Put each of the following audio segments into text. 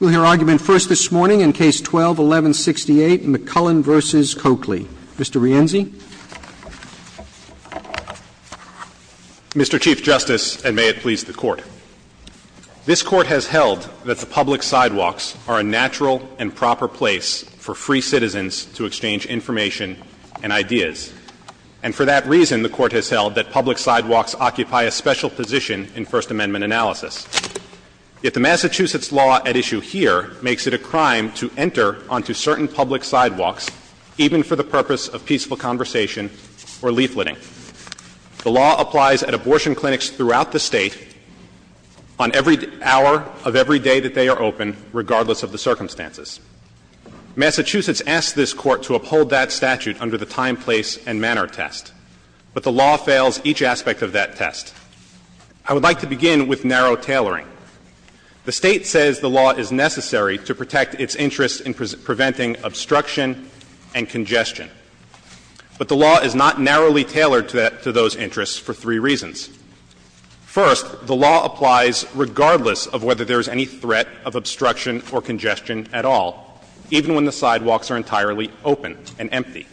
We'll hear argument first this morning in Case 12-1168, McCullen v. Coakley. Mr. Rienzi. Mr. Chief Justice, and may it please the Court. This Court has held that the public sidewalks are a natural and proper place for free citizens to exchange information and ideas. And for that reason, the Court has held that public sidewalks occupy a special position in First Amendment analysis. Yet the Massachusetts law at issue here makes it a crime to enter onto certain public sidewalks even for the purpose of peaceful conversation or leafleting. The law applies at abortion clinics throughout the State on every hour of every day that they are open, regardless of the circumstances. Massachusetts asks this Court to uphold that statute under the time, place, and manner test. But the law fails each aspect of that test. I would like to begin with narrow tailoring. The State says the law is necessary to protect its interests in preventing obstruction and congestion. But the law is not narrowly tailored to those interests for three reasons. First, the law applies regardless of whether there is any threat of obstruction or congestion at all, even when the sidewalks are entirely open and empty.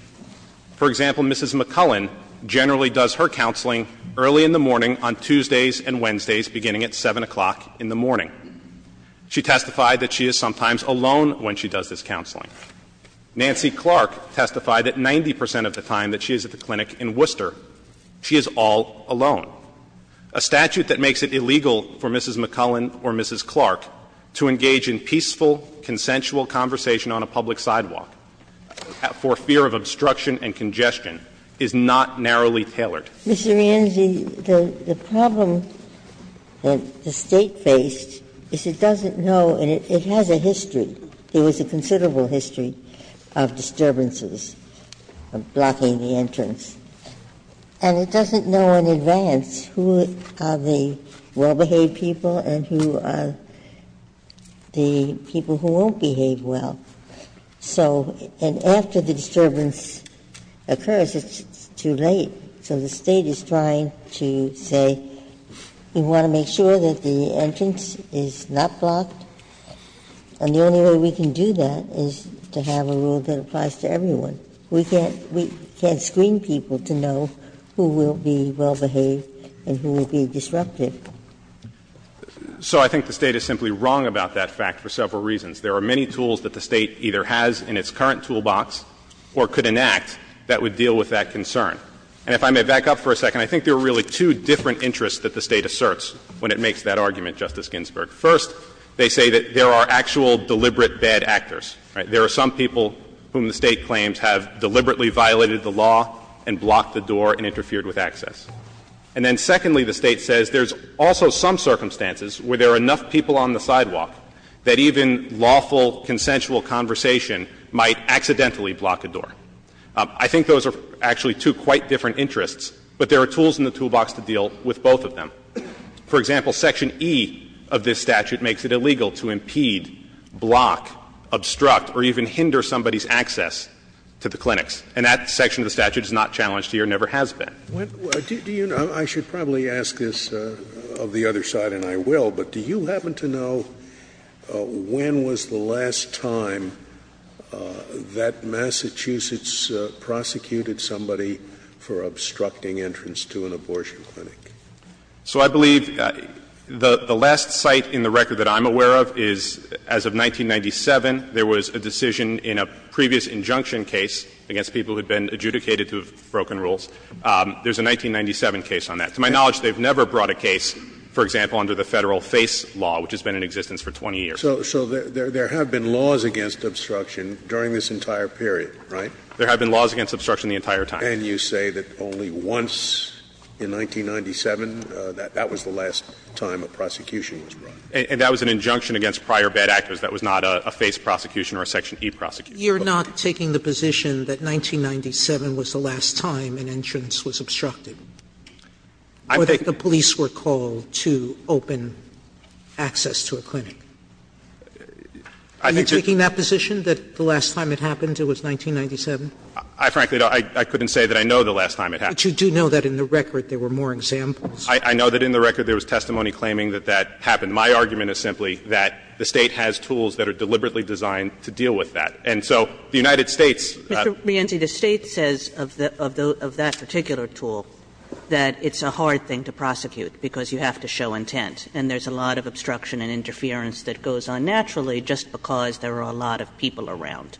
For example, Mrs. McCullen generally does her counseling early in the morning on Tuesdays and Wednesdays, beginning at 7 o'clock in the morning. She testified that she is sometimes alone when she does this counseling. Nancy Clark testified that 90 percent of the time that she is at the clinic in Worcester, she is all alone. A statute that makes it illegal for Mrs. McCullen or Mrs. Clark to engage in peaceful, consensual conversation on a public sidewalk for fear of obstruction and congestion is not narrowly tailored. Ginsburg. Mr. Rienzi, the problem that the State faced is it doesn't know, and it has a history, it has a considerable history of disturbances, of blocking the entrance. And it doesn't know in advance who are the well-behaved people and who are the people who won't behave well. So and after the disturbance occurs, it's too late. So the State is trying to say, we want to make sure that the entrance is not blocked. And the only way we can do that is to have a rule that applies to everyone. We can't screen people to know who will be well-behaved and who will be disruptive. So I think the State is simply wrong about that fact for several reasons. There are many tools that the State either has in its current toolbox or could enact that would deal with that concern. And if I may back up for a second, I think there are really two different interests that the State asserts when it makes that argument, Justice Ginsburg. First, they say that there are actual deliberate bad actors, right? There are some people whom the State claims have deliberately violated the law and blocked the door and interfered with access. And then secondly, the State says there's also some circumstances where there are enough people on the sidewalk that even lawful, consensual conversation might accidentally block a door. I think those are actually two quite different interests, but there are tools in the toolbox to deal with both of them. For example, Section E of this statute makes it illegal to impede, block, obstruct or even hinder somebody's access to the clinics. And that section of the statute is not challenged here and never has been. Scalia, do you know — I should probably ask this of the other side, and I will, but do you happen to know when was the last time that Massachusetts prosecuted somebody for obstructing entrance to an abortion clinic? So I believe the last site in the record that I'm aware of is, as of 1997, there was a decision in a previous injunction case against people who had been adjudicated to have broken rules. There's a 1997 case on that. To my knowledge, they've never brought a case, for example, under the Federal FACE law, which has been in existence for 20 years. So there have been laws against obstruction during this entire period, right? There have been laws against obstruction the entire time. And you say that only once in 1997, that was the last time a prosecution was brought. And that was an injunction against prior bad actors. That was not a FACE prosecution or a Section E prosecution. Sotomayor, you're not taking the position that 1997 was the last time an entrance was obstructed, or that the police were called to open access to a clinic? Are you taking that position, that the last time it happened, it was 1997? I frankly don't. I couldn't say that I know the last time it happened. But you do know that in the record there were more examples. I know that in the record there was testimony claiming that that happened. My argument is simply that the State has tools that are deliberately designed to deal with that. And so the United States ---- Kagan, Mr. Rienzi, the State says of that particular tool that it's a hard thing to prosecute, because you have to show intent. And there's a lot of obstruction and interference that goes on naturally just because there are a lot of people around,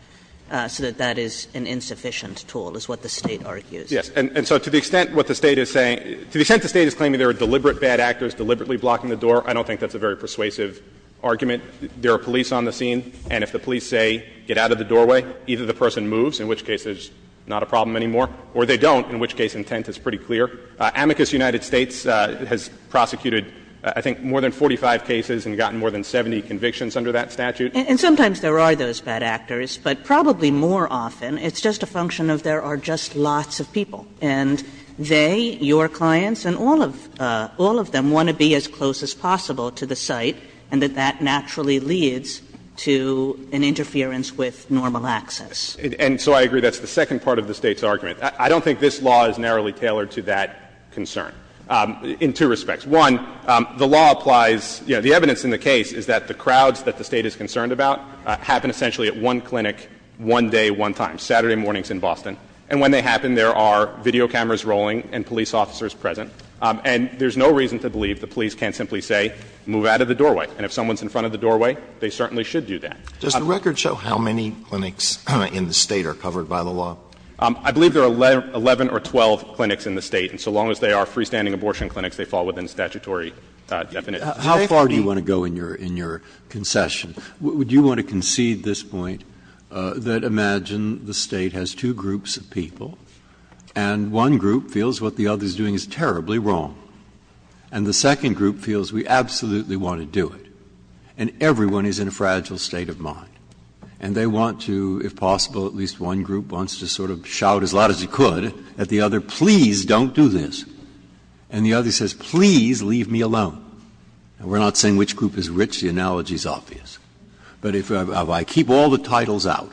so that that is an insufficient tool, is what the State argues. Yes. And so to the extent what the State is saying – to the extent the State is claiming there are deliberate bad actors deliberately blocking the door, I don't think that's a very persuasive argument. There are police on the scene, and if the police say, get out of the doorway, either the person moves, in which case there's not a problem anymore, or they don't, in which case intent is pretty clear. Amicus United States has prosecuted, I think, more than 45 cases and gotten more than 70 convictions under that statute. And sometimes there are those bad actors, but probably more often it's just a function of there are just lots of people, and they, your clients, and all of them want to be as close as possible to the site, and that that naturally leads to an interference with normal access. And so I agree that's the second part of the State's argument. I don't think this law is narrowly tailored to that concern in two respects. One, the law applies – you know, the evidence in the case is that the crowds that the State is concerned about happen essentially at one clinic, one day, one time. Saturday morning is in Boston, and when they happen, there are video cameras rolling and police officers present. And there's no reason to believe the police can't simply say, move out of the doorway. And if someone's in front of the doorway, they certainly should do that. Alitoso, does the record show how many clinics in the State are covered by the law? I believe there are 11 or 12 clinics in the State, and so long as they are freestanding abortion clinics, they fall within statutory definition. How far do you want to go in your concession? Would you want to concede this point, that imagine the State has two groups of people, and one group feels what the other is doing is terribly wrong, and the second group feels we absolutely want to do it, and everyone is in a fragile state of mind. And they want to, if possible, at least one group wants to sort of shout as loud as you could at the other, please don't do this. And the other says, please leave me alone. And we're not saying which group is rich. The analogy is obvious. But if I keep all the titles out,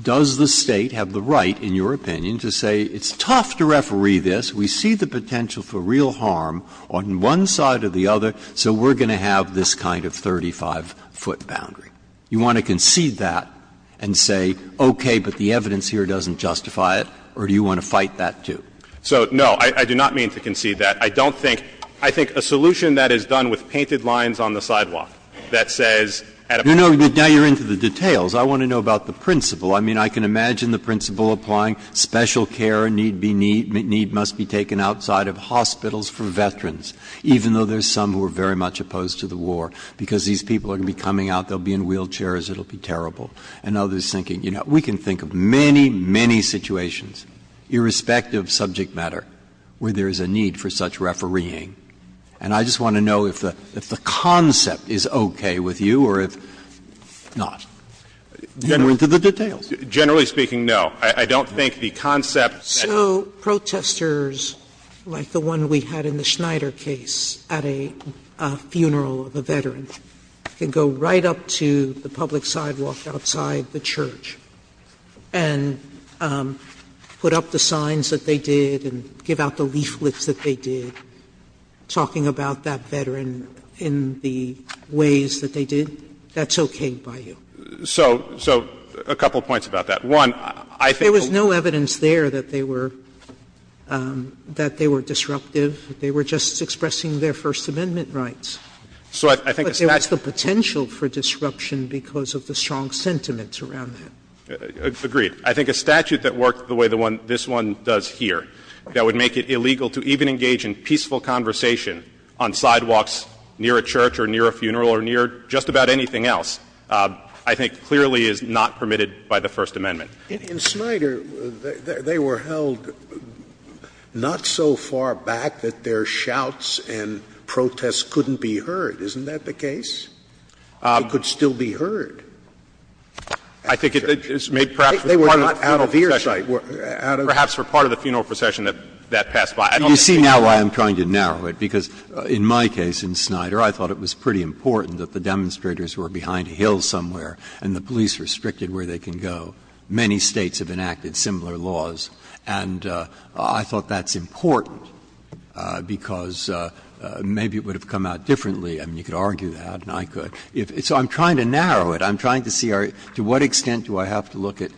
does the State have the right, in your opinion, to say it's tough to referee this, we see the potential for real harm on one side of the other, so we're going to have this kind of 35-foot boundary? You want to concede that and say, okay, but the evidence here doesn't justify it, or do you want to fight that, too? So, no, I do not mean to concede that. I don't think — I think a solution that is done with painted lines on the sidewalk that says at a point in time, please don't do this. You know, now you're into the details. I want to know about the principle. I mean, I can imagine the principle applying special care need be need must be taken outside of hospitals for veterans, even though there's some who are very much opposed to the war, because these people are going to be coming out, they'll be in wheelchairs, it'll be terrible. And others thinking, you know, we can think of many, many situations, irrespective of subject matter, where there is a need for such refereeing, and I just want to know if the concept is okay with you or if not. You're into the details. Generally speaking, no. I don't think the concept that you're saying is okay. Sotomayor, so protesters like the one we had in the Schneider case at a funeral of a veteran can go right up to the public sidewalk outside the church and put up the signs that they did and give out the leaflets that they did, talking about that veteran in the ways that they did? That's okay by you? So a couple of points about that. One, I think there was no evidence there that they were disruptive. They were just expressing their First Amendment rights. But there was the potential for disruption because of the strong sentiments around that. Agreed. I think a statute that worked the way this one does here, that would make it illegal to even engage in peaceful conversation on sidewalks near a church or near a funeral or near just about anything else, I think clearly is not permitted by the First Amendment. In Schneider, they were held not so far back that their shouts and protests couldn't be heard. Isn't that the case? It could still be heard. I think it's made perhaps for part of the funeral procession. Perhaps for part of the funeral procession that that passed by. You see now why I'm trying to narrow it, because in my case in Schneider, I thought it was pretty important that the demonstrators were behind a hill somewhere and the police restricted where they can go. Many States have enacted similar laws, and I thought that's important because maybe it would have come out differently. I mean, you could argue that and I could. So I'm trying to narrow it. I'm trying to see to what extent do I have to look at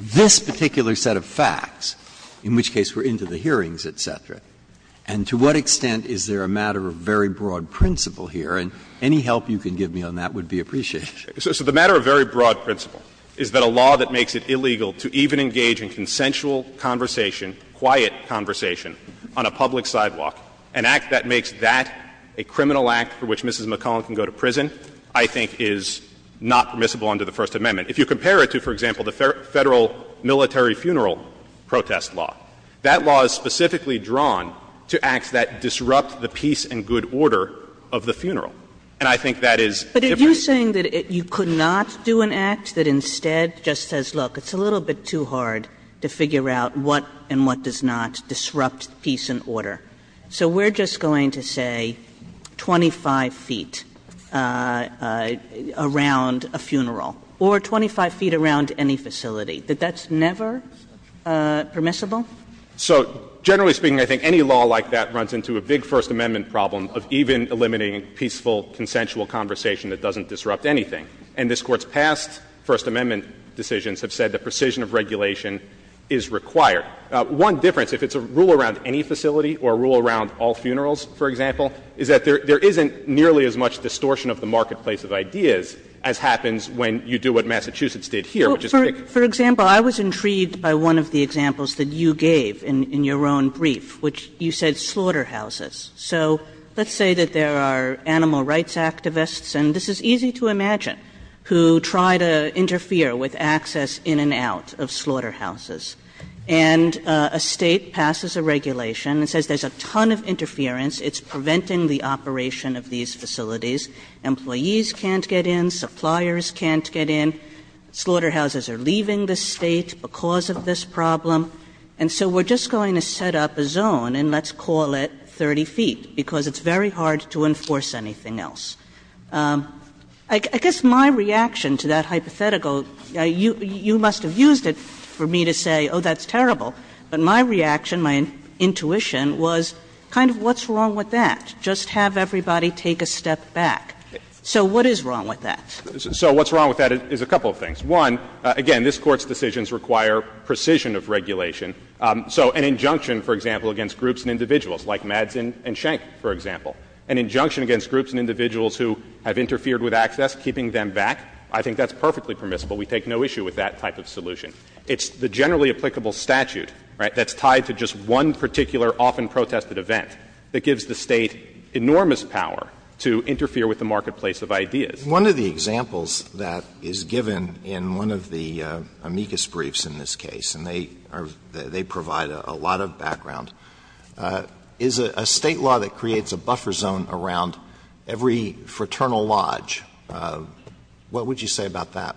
this particular set of facts, in which case we're into the hearings, et cetera, and to what extent is there a matter of very broad principle here, and any help you can give me on that would be appreciated. So the matter of very broad principle is that a law that makes it illegal to even engage in consensual conversation, quiet conversation, on a public sidewalk, an act that makes that a criminal act for which Mrs. McClellan can go to prison, I think is not permissible under the First Amendment. If you compare it to, for example, the Federal military funeral protest law, that law is specifically drawn to acts that disrupt the peace and good order of the funeral. And I think that is different. Kagan, But are you saying that you could not do an act that instead just says, look, it's a little bit too hard to figure out what and what does not disrupt peace and order? So we're just going to say 25 feet around a funeral or 25 feet around any facility. That that's never permissible? So generally speaking, I think any law like that runs into a big First Amendment problem of even eliminating peaceful, consensual conversation that doesn't disrupt anything. And this Court's past First Amendment decisions have said that precision of regulation is required. One difference, if it's a rule around any facility or a rule around all funerals, for example, is that there isn't nearly as much distortion of the marketplace of ideas as happens when you do what Massachusetts did here, which is pick. For example, I was intrigued by one of the examples that you gave in your own brief, which you said slaughterhouses. So let's say that there are animal rights activists, and this is easy to imagine, who try to interfere with access in and out of slaughterhouses. And a State passes a regulation that says there's a ton of interference, it's preventing the operation of these facilities, employees can't get in, suppliers can't get in, slaughterhouses are leaving the State because of this problem. And so we're just going to set up a zone, and let's call it 30 feet, because it's very hard to enforce anything else. I guess my reaction to that hypothetical, you must have used it for me to say, oh, that's terrible. But my reaction, my intuition was kind of what's wrong with that? Just have everybody take a step back. So what is wrong with that? So what's wrong with that is a couple of things. One, again, this Court's decisions require precision of regulation. So an injunction, for example, against groups and individuals, like Madsen and Schenck, for example, an injunction against groups and individuals who have interfered with access, keeping them back, I think that's perfectly permissible. We take no issue with that type of solution. It's the generally applicable statute, right, that's tied to just one particular, often protested event, that gives the State enormous power to interfere with the marketplace of ideas. Alito, I think one of the examples that is given in one of the amicus briefs in this case, and they provide a lot of background, is a State law that creates a buffer zone around every fraternal lodge. What would you say about that?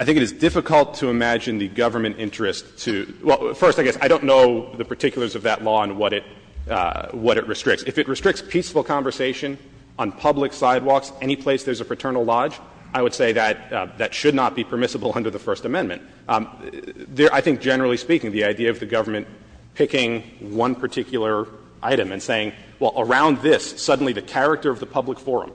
I think it is difficult to imagine the government interest to — well, first, I guess I don't know the particulars of that law and what it — what it restricts. If it restricts peaceful conversation on public sidewalks any place there's a fraternal lodge, I would say that that should not be permissible under the First Amendment. I think, generally speaking, the idea of the government picking one particular item and saying, well, around this, suddenly the character of the public forum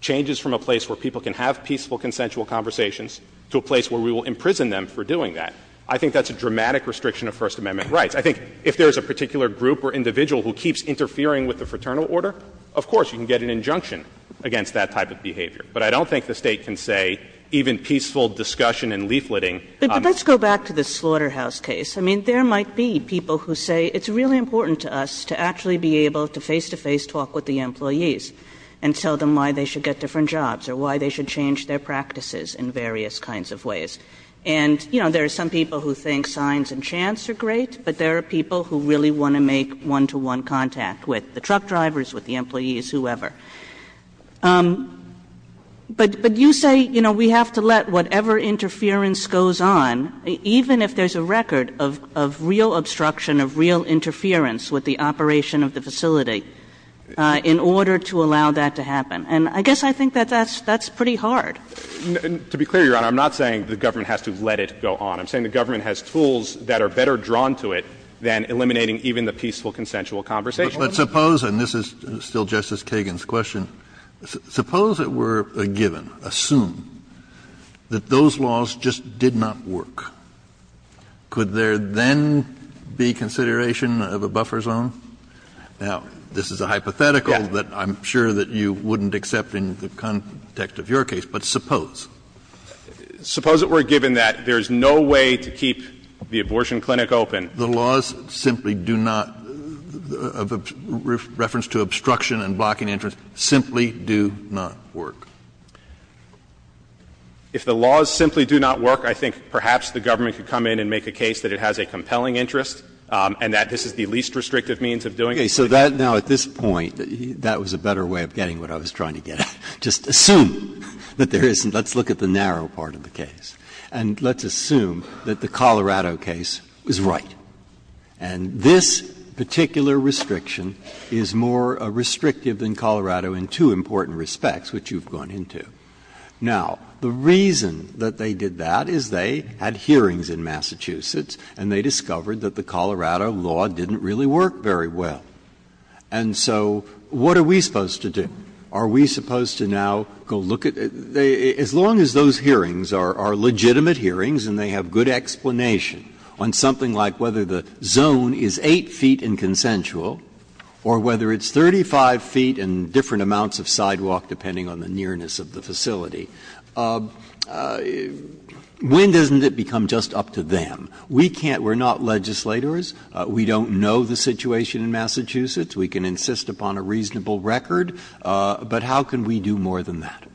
changes from a place where people can have peaceful, consensual conversations to a place where we will imprison them for doing that, I think that's a dramatic restriction of First Amendment rights. I think if there is a particular group or individual who keeps interfering with the fraternal order, of course you can get an injunction against that type of behavior. But I don't think the State can say even peaceful discussion and leafleting on the — But let's go back to the Slaughterhouse case. I mean, there might be people who say it's really important to us to actually be able to face-to-face talk with the employees and tell them why they should get different jobs or why they should change their practices in various kinds of ways. And, you know, there are some people who think signs and chants are great, but there are people who really want to make one-to-one contact with the truck drivers, with the employees, whoever. But you say, you know, we have to let whatever interference goes on, even if there's a record of real obstruction, of real interference with the operation of the facility, in order to allow that to happen. And I guess I think that that's pretty hard. To be clear, Your Honor, I'm not saying the government has to let it go on. I'm saying the government has tools that are better drawn to it than eliminating even the peaceful, consensual conversation. Kennedy. But suppose, and this is still Justice Kagan's question, suppose it were a given, assume that those laws just did not work. Could there then be consideration of a buffer zone? Now, this is a hypothetical that I'm sure that you wouldn't accept in the context of your case, but suppose. Suppose it were a given that there's no way to keep the abortion clinic open. The laws simply do not, of reference to obstruction and blocking entrance, simply do not work. If the laws simply do not work, I think perhaps the government could come in and make a case that it has a compelling interest and that this is the least restrictive means of doing it. Okay. So that now, at this point, that was a better way of getting what I was trying to get at. Just assume that there isn't. Let's look at the narrow part of the case. And let's assume that the Colorado case was right. And this particular restriction is more restrictive than Colorado in two important respects, which you've gone into. Now, the reason that they did that is they had hearings in Massachusetts and they discovered that the Colorado law didn't really work very well. And so what are we supposed to do? Are we supposed to now go look at the — as long as those hearings are legitimate hearings and they have good explanation on something like whether the zone is 8 feet inconsensual or whether it's 35 feet and different amounts of sidewalk, depending on the nearness of the facility, when doesn't it become just up to them? We can't — we're not legislators. We don't know the situation in Massachusetts. We can insist upon a reasonable record, but how can we do more than that?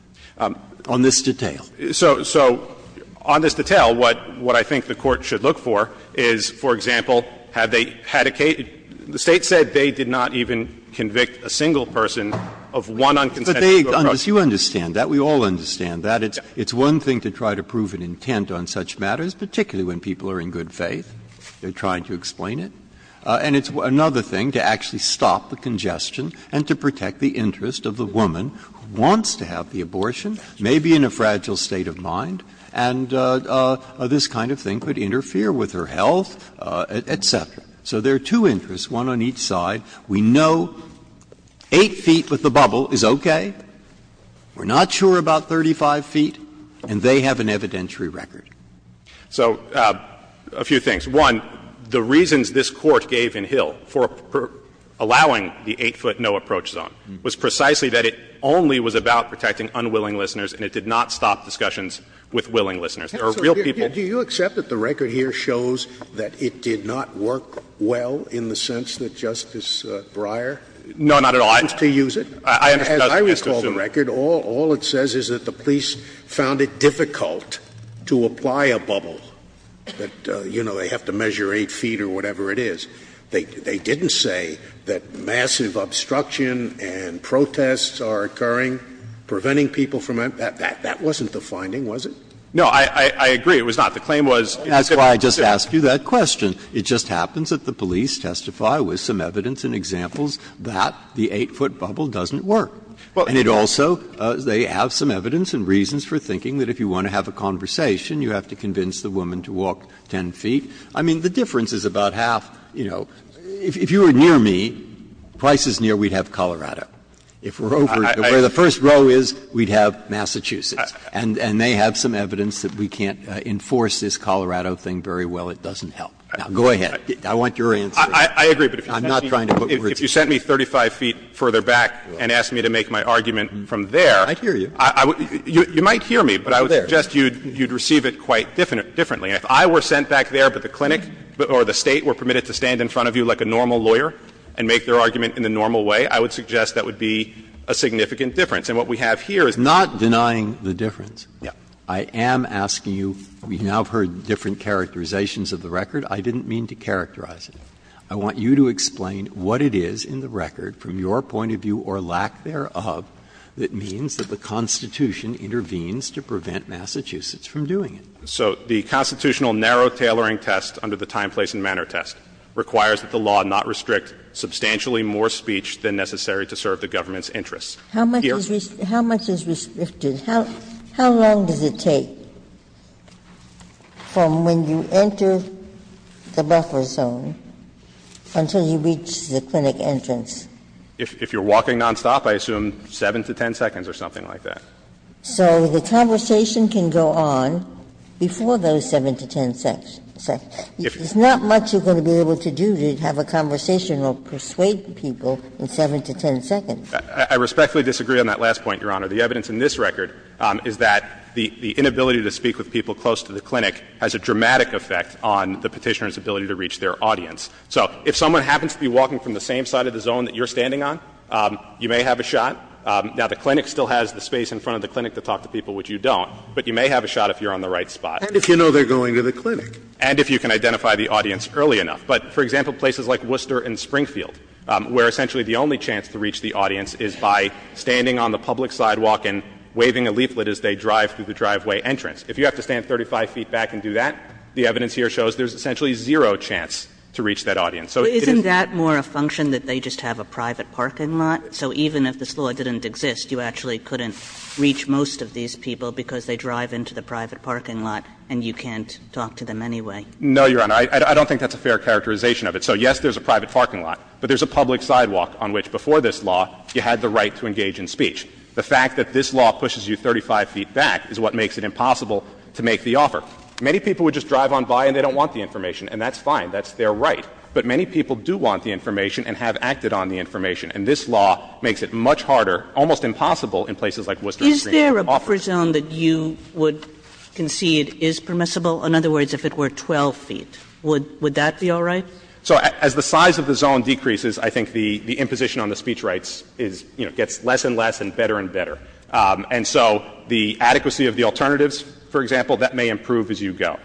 On this detail. So on this detail, what I think the Court should look for is, for example, had they had a case — the State said they did not even convict a single person of one unconsensual approach. But they — you understand that. We all understand that. It's one thing to try to prove an intent on such matters, particularly when people are in good faith. They're trying to explain it. And it's another thing to actually stop the congestion and to protect the interest of the woman who wants to have the abortion, maybe in a fragile state of mind, and this kind of thing could interfere with her health, et cetera. So there are two interests, one on each side. We know 8 feet with the bubble is okay. We're not sure about 35 feet. And they have an evidentiary record. So a few things. One, the reasons this Court gave in Hill for allowing the 8-foot no-approach zone was precisely that it only was about protecting unwilling listeners and it did not stop discussions with willing listeners. There are real people — Scalia. Do you accept that the record here shows that it did not work well in the sense that Justice Breyer — No, not at all. I —— used to use it? As I recall the record, all it says is that the police found it difficult to appoint They didn't say that they had to fly a bubble, that, you know, they have to measure 8 feet or whatever it is. They didn't say that massive obstruction and protests are occurring, preventing people from — that wasn't the finding, was it? No, I agree. It was not. The claim was — Breyer. That's why I just asked you that question. It just happens that the police testify with some evidence and examples that the 8-foot bubble doesn't work. And it also — they have some evidence and reasons for thinking that if you want to have a conversation, you have to convince the woman to walk 10 feet. I mean, the difference is about half, you know. If you were near me, twice as near, we'd have Colorado. If we're over to where the first row is, we'd have Massachusetts. And they have some evidence that we can't enforce this Colorado thing very well. It doesn't help. Now, go ahead. I want your answer. I would suggest that you would be more than happy to make my argument from there. I'd hear you. You might hear me, but I would suggest you'd receive it quite differently. If I were sent back there, but the clinic or the State were permitted to stand in front of you like a normal lawyer and make their argument in the normal way, I would suggest that would be a significant difference. And what we have here is— Not denying the difference. Yes. I am asking you — you now have heard different characterizations of the record. I didn't mean to characterize it. I want you to explain what it is in the record, from your point of view or lack thereof, that means that the Constitution intervenes to prevent Massachusetts from doing it. So the constitutional narrow tailoring test under the time, place and manner test requires that the law not restrict substantially more speech than necessary to serve the government's interests. Here— How much is restricted? How long does it take from when you enter the buffer zone until you reach the clinic entrance? If you're walking nonstop, I assume 7 to 10 seconds or something like that. So the conversation can go on before those 7 to 10 seconds. There's not much you're going to be able to do to have a conversation or persuade people in 7 to 10 seconds. I respectfully disagree on that last point, Your Honor. The evidence in this record is that the inability to speak with people close to the clinic has a dramatic effect on the Petitioner's ability to reach their audience. So if someone happens to be walking from the same side of the zone that you're standing on, you may have a shot. Now, the clinic still has the space in front of the clinic to talk to people, which you don't, but you may have a shot if you're on the right spot. And if you know they're going to the clinic. And if you can identify the audience early enough. But, for example, places like Worcester and Springfield, where essentially the only chance to reach the audience is by standing on the public sidewalk and waving a leaflet as they drive through the driveway entrance. If you have to stand 35 feet back and do that, the evidence here shows there's essentially zero chance to reach that audience. Kagan. Kagan. Kagan. So isn't that more a function, that they just have a private parking lot? So even if this law didn't exist, you actually couldn't reach most of these people because they drive into the private parking lot and you can't talk to them anyway? No, Your Honor. I don't think that's a fair characterization of it. So, yes, there's a private parking lot. But there's a public sidewalk on which, before this law, you had the right to engage in speech. The fact that this law pushes you 35 feet back is what makes it impossible to make the offer. Many people would just drive on by and they don't want the information. And that's fine. That's their right. But many people do want the information and have acted on the information. And this law makes it much harder, almost impossible, in places like Worcester and Springfield. Is there a buffer zone that you would concede is permissible? In other words, if it were 12 feet, would that be all right? So as the size of the zone decreases, I think the imposition on the speech rights is, you know, gets less and less and better and better. And so the adequacy of the alternatives, for example, that may improve as you go.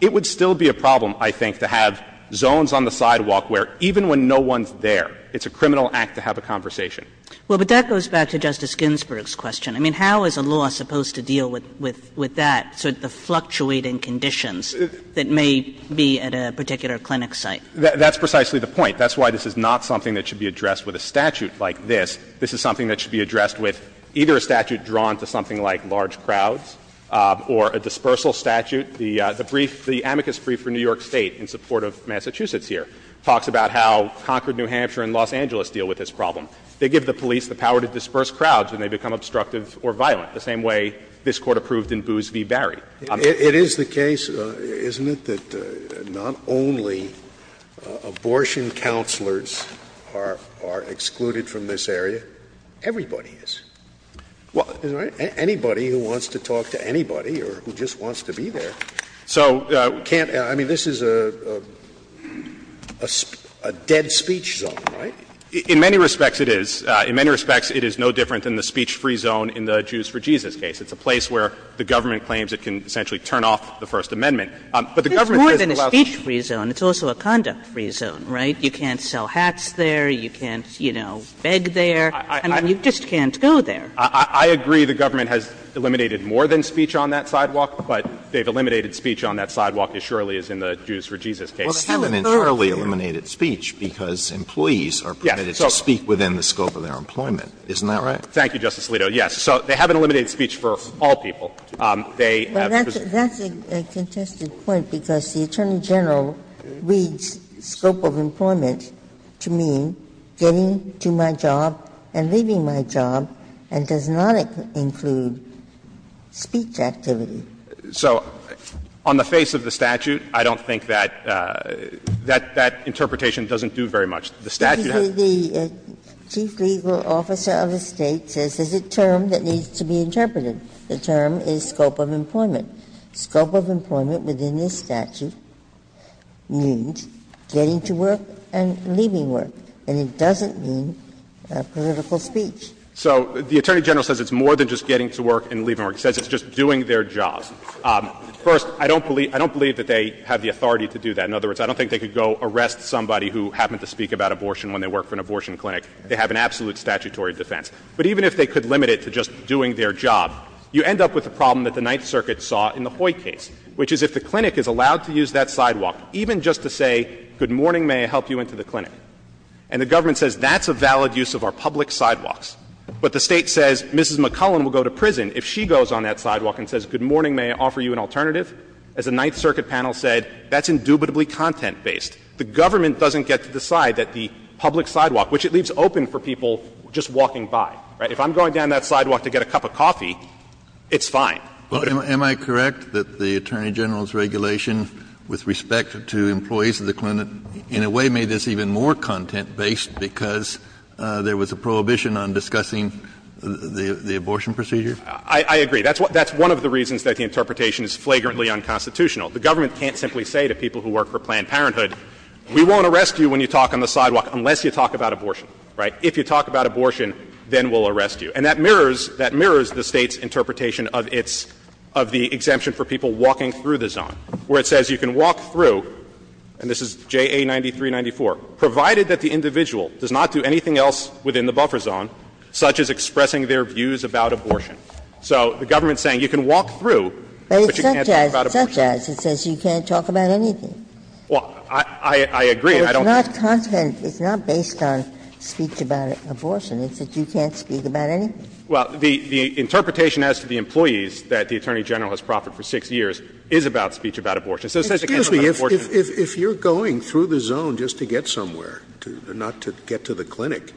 It would still be a problem, I think, to have zones on the sidewalk where even when no one's there, it's a criminal act to have a conversation. Well, but that goes back to Justice Ginsburg's question. I mean, how is a law supposed to deal with that, sort of the fluctuating conditions that may be at a particular clinic site? That's precisely the point. That's why this is not something that should be addressed with a statute like this. This is something that should be addressed with either a statute drawn to something like large crowds or a dispersal statute. The brief, the amicus brief for New York State in support of Massachusetts here talks about how Concord, New Hampshire, and Los Angeles deal with this problem. They give the police the power to disperse crowds when they become obstructive or violent, the same way this Court approved in Boos v. Barry. It is the case, isn't it, that not only abortion counselors are excluded from this area, everybody is, anybody who wants to talk to anybody or who just wants to be there. So can't — I mean, this is a dead speech zone, right? In many respects, it is. In many respects, it is no different than the speech-free zone in the Jews for Jesus case. It's a place where the government claims it can essentially turn off the First Amendment. But the government says it allows you to do that. Kagan. It's more than a speech-free zone. It's also a conduct-free zone, right? You can't sell hats there. You can't, you know, beg there. I mean, you just can't go there. I agree the government has eliminated more than speech on that sidewalk, but they've eliminated speech on that sidewalk as surely as in the Jews for Jesus case. Well, they haven't thoroughly eliminated speech because employees are permitted to speak within the scope of their employment. Isn't that right? Thank you, Justice Alito. Yes. So they haven't eliminated speech for all people. They have presumed to do that. Well, that's a contested point, because the Attorney General reads scope of employment to mean getting to my job and leaving my job and does not include speech activity. So on the face of the statute, I don't think that that interpretation doesn't do very much. The statute has to do with that. The Chief Legal Officer of the State says there's a term that needs to be interpreted. The term is scope of employment. Scope of employment within this statute means getting to work and leaving work, and it doesn't mean political speech. So the Attorney General says it's more than just getting to work and leaving work. He says it's just doing their jobs. First, I don't believe they have the authority to do that. In other words, I don't think they could go arrest somebody who happened to speak about abortion when they work for an abortion clinic. They have an absolute statutory defense. But even if they could limit it to just doing their job, you end up with the problem that the Ninth Circuit saw in the Hoyt case, which is if the clinic is allowed to use that sidewalk, even just to say, good morning, may I help you into the clinic, and the government says that's a valid use of our public sidewalks, but the State says Mrs. McClellan will go to prison if she goes on that sidewalk and says, good morning, may I offer you an alternative, as the Ninth Circuit panel said, that's indubitably content-based. The government doesn't get to decide that the public sidewalk, which it leaves open for people just walking by, right? If I'm going down that sidewalk to get a cup of coffee, it's fine. Kennedy. Kennedy, am I correct that the Attorney General's regulation with respect to employees of the clinic in a way made this even more content-based because there was a prohibition on discussing the abortion procedure? I agree. That's one of the reasons that the interpretation is flagrantly unconstitutional. The government can't simply say to people who work for Planned Parenthood, we won't arrest you when you talk on the sidewalk unless you talk about abortion, right? If you talk about abortion, then we'll arrest you. And that mirrors the State's interpretation of its of the exemption for people walking through the zone, where it says you can walk through, and this is JA 9394, provided that the individual does not do anything else within the buffer zone, such as expressing their views about abortion. So the government is saying you can walk through, but you can't talk about abortion. It's not content, it's not based on speech about abortion. It's that you can't speak about anything. Well, the interpretation as to the employees that the Attorney General has proffered for 6 years is about speech about abortion. So it says it can't talk about abortion. If you're going through the zone just to get somewhere, not to get to the clinic,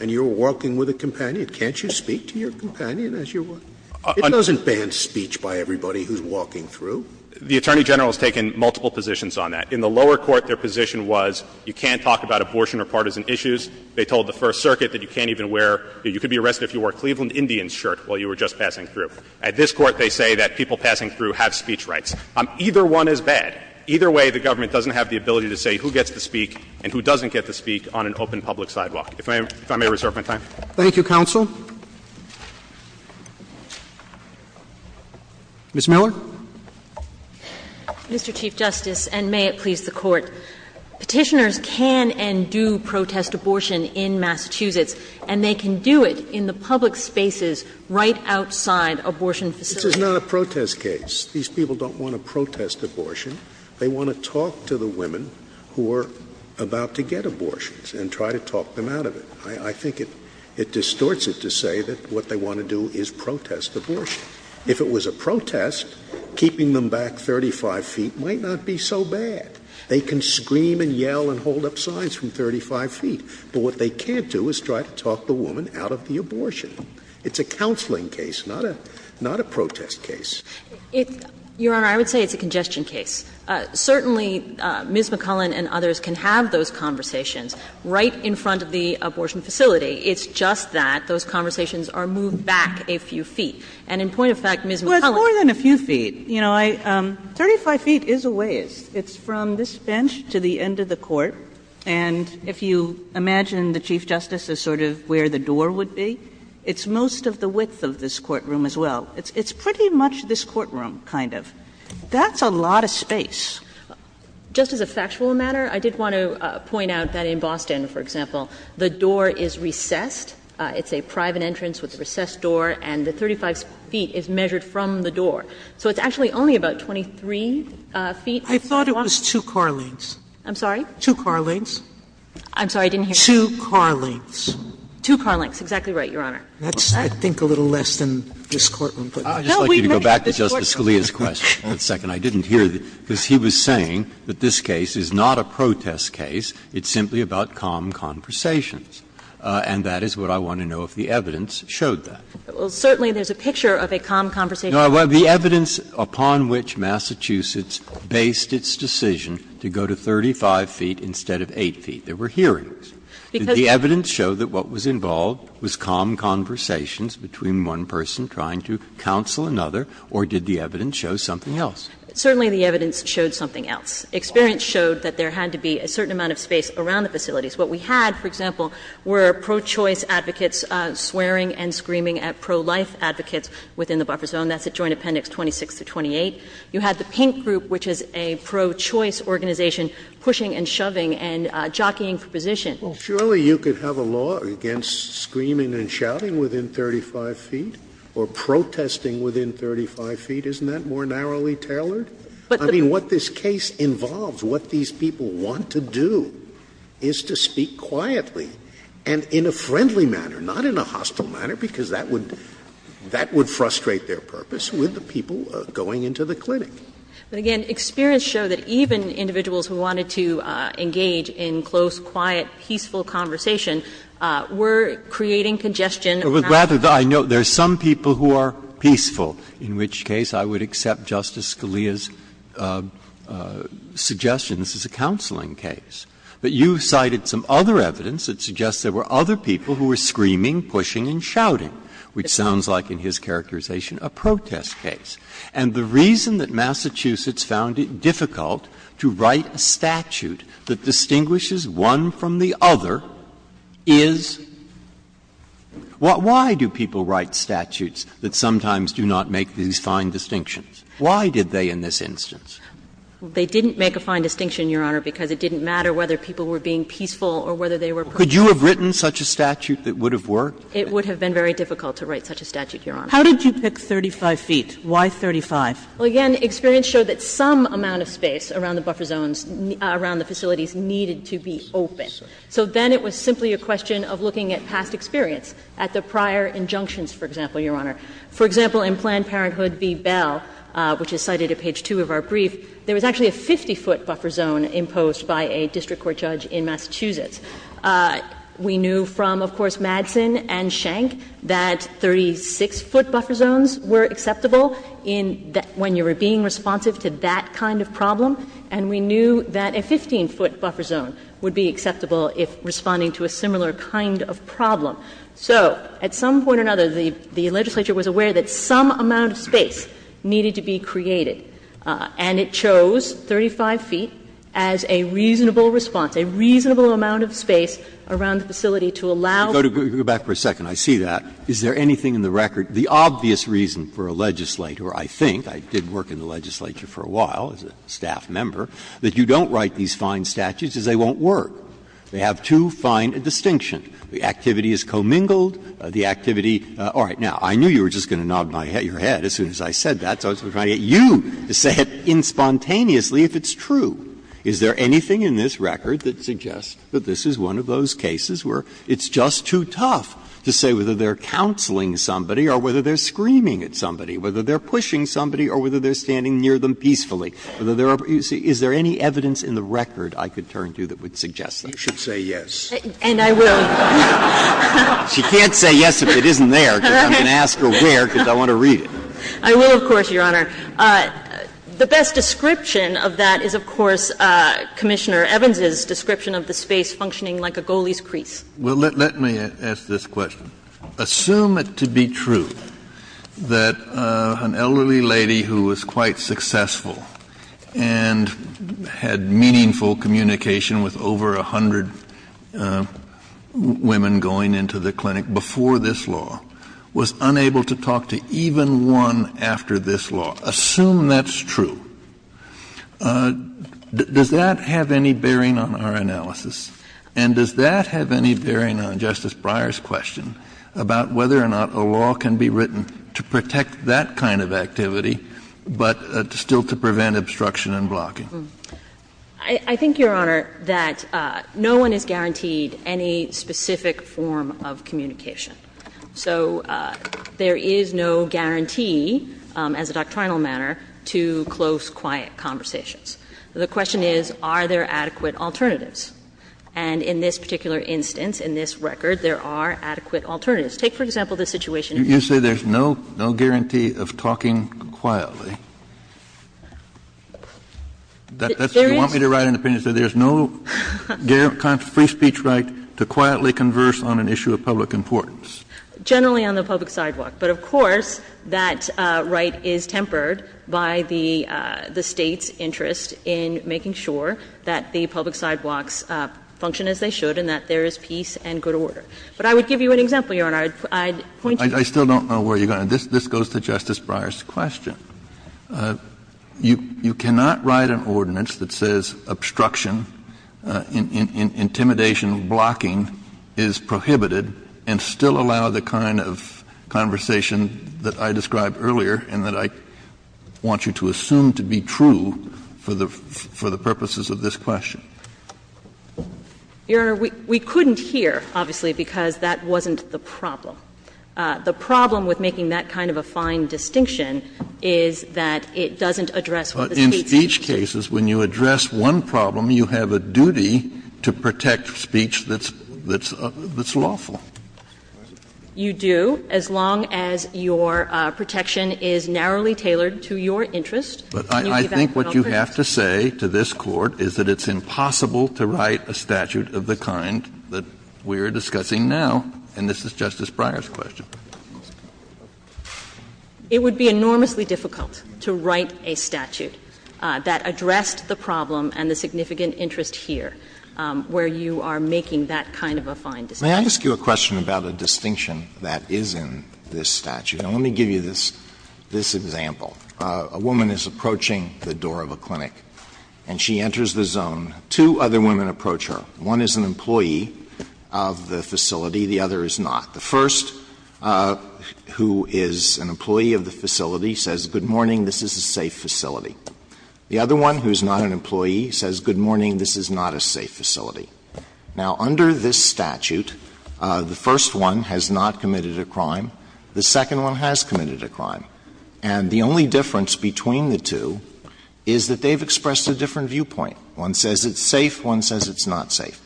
and you're walking with a companion, can't you speak to your companion as you're walking? It doesn't ban speech by everybody who's walking through. The Attorney General has taken multiple positions on that. In the lower court, their position was you can't talk about abortion or partisan issues. They told the First Circuit that you can't even wear or you could be arrested if you wore a Cleveland Indians shirt while you were just passing through. At this court, they say that people passing through have speech rights. Either one is bad. Either way, the government doesn't have the ability to say who gets to speak and who doesn't get to speak on an open public sidewalk. If I may reserve my time. Roberts. Thank you, counsel. Ms. Miller. Mr. Chief Justice, and may it please the Court. Petitioners can and do protest abortion in Massachusetts, and they can do it in the public spaces right outside abortion facilities. This is not a protest case. These people don't want to protest abortion. They want to talk to the women who are about to get abortions and try to talk them out of it. I think it distorts it to say that what they want to do is protest abortion. If it was a protest, keeping them back 35 feet might not be so bad. They can scream and yell and hold up signs from 35 feet, but what they can't do is try to talk the woman out of the abortion. It's a counseling case, not a protest case. Your Honor, I would say it's a congestion case. Certainly, Ms. McCullen and others can have those conversations right in front of the abortion facility. It's just that those conversations are moved back a few feet. And in point of fact, Ms. McCullen Well, it's more than a few feet. You know, I – 35 feet is a ways. It's from this bench to the end of the court. And if you imagine the Chief Justice as sort of where the door would be, it's most of the width of this courtroom as well. It's pretty much this courtroom, kind of. That's a lot of space. Just as a factual matter, I did want to point out that in Boston, for example, the door is recessed. It's a private entrance with a recessed door, and the 35 feet is measured from the door. So it's actually only about 23 feet. Sotomayor I thought it was two car lengths. McCullen I'm sorry? Sotomayor Two car lengths. McCullen I'm sorry. I didn't hear that. Sotomayor Two car lengths. McCullen Two car lengths. Exactly right, Your Honor. Sotomayor That's, I think, a little less than this courtroom. Breyer I'd just like you to go back to Justice Scalia's question for a second. I didn't hear it, because he was saying that this case is not a protest case. It's simply about calm conversations, and that is what I want to know if the evidence showed that. McCullen Well, certainly there's a picture of a calm conversation. Breyer The evidence upon which Massachusetts based its decision to go to 35 feet instead of 8 feet, there were hearings. Did the evidence show that what was involved was calm conversations between one person trying to counsel another, or did the evidence show something else? McCullen Certainly the evidence showed something else. Experience showed that there had to be a certain amount of space around the facilities. What we had, for example, were pro-choice advocates swearing and screaming at pro-life advocates within the buffer zone. That's at Joint Appendix 26 to 28. You had the Pink Group, which is a pro-choice organization, pushing and shoving and jockeying for position. Scalia Surely you could have a law against screaming and shouting within 35 feet or protesting within 35 feet. Isn't that more narrowly tailored? I mean, what this case involves, what these people want to do is to speak quietly and in a friendly manner, not in a hostile manner, because that would frustrate their purpose with the people going into the clinic. McCullen But, again, experience showed that even individuals who wanted to engage in close, quiet, peaceful conversation were creating congestion around the facility. Breyer But rather, I note, there are some people who are peaceful, in which case I would not accept Justice Scalia's suggestions as a counseling case. But you cited some other evidence that suggests there were other people who were screaming, pushing, and shouting, which sounds like, in his characterization, a protest case. And the reason that Massachusetts found it difficult to write a statute that distinguishes one from the other is why do people write statutes that sometimes do not make these fine distinctions? Why did they in this instance? McCullen They didn't make a fine distinction, Your Honor, because it didn't matter whether people were being peaceful or whether they were protesting. Breyer Could you have written such a statute that would have worked? McCullen It would have been very difficult to write such a statute, Your Honor. Kagan How did you pick 35 feet? Why 35? McCullen Well, again, experience showed that some amount of space around the buffer zones, around the facilities, needed to be open. So then it was simply a question of looking at past experience, at the prior injunctions, for example, Your Honor. For example, in Planned Parenthood v. Bell, which is cited at page 2 of our brief, there was actually a 50-foot buffer zone imposed by a district court judge in Massachusetts. We knew from, of course, Madsen and Schenck that 36-foot buffer zones were acceptable in that when you were being responsive to that kind of problem, and we knew that a 15-foot buffer zone would be acceptable if responding to a similar kind of problem. So at some point or another, the legislature was aware that some amount of space needed to be created, and it chose 35 feet as a reasonable response, a reasonable amount of space around the facility to allow. Breyer Go back for a second. I see that. Is there anything in the record, the obvious reason for a legislator, I think, I did work in the legislature for a while as a staff member, that you don't write these They have too fine a distinction. The activity is commingled, the activity – all right. Now, I knew you were just going to nod your head as soon as I said that, so I was trying to get you to say it inspontaneously if it's true. Is there anything in this record that suggests that this is one of those cases where it's just too tough to say whether they're counseling somebody or whether they're screaming at somebody, whether they're pushing somebody or whether they're standing near them peacefully? Is there any evidence in the record, I could turn to, that would suggest that? You should say yes. And I will. She can't say yes if it isn't there, because I'm going to ask her where, because I want to read it. I will, of course, Your Honor. The best description of that is, of course, Commissioner Evans's description of the space functioning like a goalie's crease. Well, let me ask this question. Assume it to be true that an elderly lady who was quite successful and had meaningful communication with over a hundred women going into the clinic before this law was unable to talk to even one after this law. Assume that's true. Does that have any bearing on our analysis? And does that have any bearing on Justice Breyer's question about whether or not a law can be written to protect that kind of activity, but still to prevent obstruction and blocking? I think, Your Honor, that no one is guaranteed any specific form of communication. So there is no guarantee, as a doctrinal matter, to close, quiet conversations. The question is, are there adequate alternatives? And in this particular instance, in this record, there are adequate alternatives. Take, for example, the situation in which there is no guarantee of talking quietly. You want me to write an opinion that says there is no free speech right to quietly converse on an issue of public importance? Generally on the public sidewalk. But of course, that right is tempered by the State's interest in making sure that the public sidewalks function as they should and that there is peace and good order. But I would give you an example, Your Honor. I'd point you to it. I still don't know where you're going. This goes to Justice Breyer's question. You cannot write an ordinance that says obstruction, intimidation, blocking is prohibited and still allow the kind of conversation that I described earlier and that I want you to assume to be true for the purposes of this question. Your Honor, we couldn't here, obviously, because that wasn't the problem. The problem with making that kind of a fine distinction is that it doesn't address what the State's interest is. Kennedy, in speech cases, when you address one problem, you have a duty to protect speech that's lawful. You do, as long as your protection is narrowly tailored to your interest. But I think what you have to say to this Court is that it's impossible to write a statute of the kind that we are discussing now. And this is Justice Breyer's question. It would be enormously difficult to write a statute that addressed the problem and the significant interest here where you are making that kind of a fine distinction. May I ask you a question about a distinction that is in this statute? And let me give you this example. A woman is approaching the door of a clinic and she enters the zone. Two other women approach her. One is an employee of the facility, the other is not. The first, who is an employee of the facility, says, good morning, this is a safe facility. The other one, who is not an employee, says, good morning, this is not a safe facility. Now, under this statute, the first one has not committed a crime. The second one has committed a crime. And the only difference between the two is that they have expressed a different viewpoint. One says it's safe, one says it's not safe.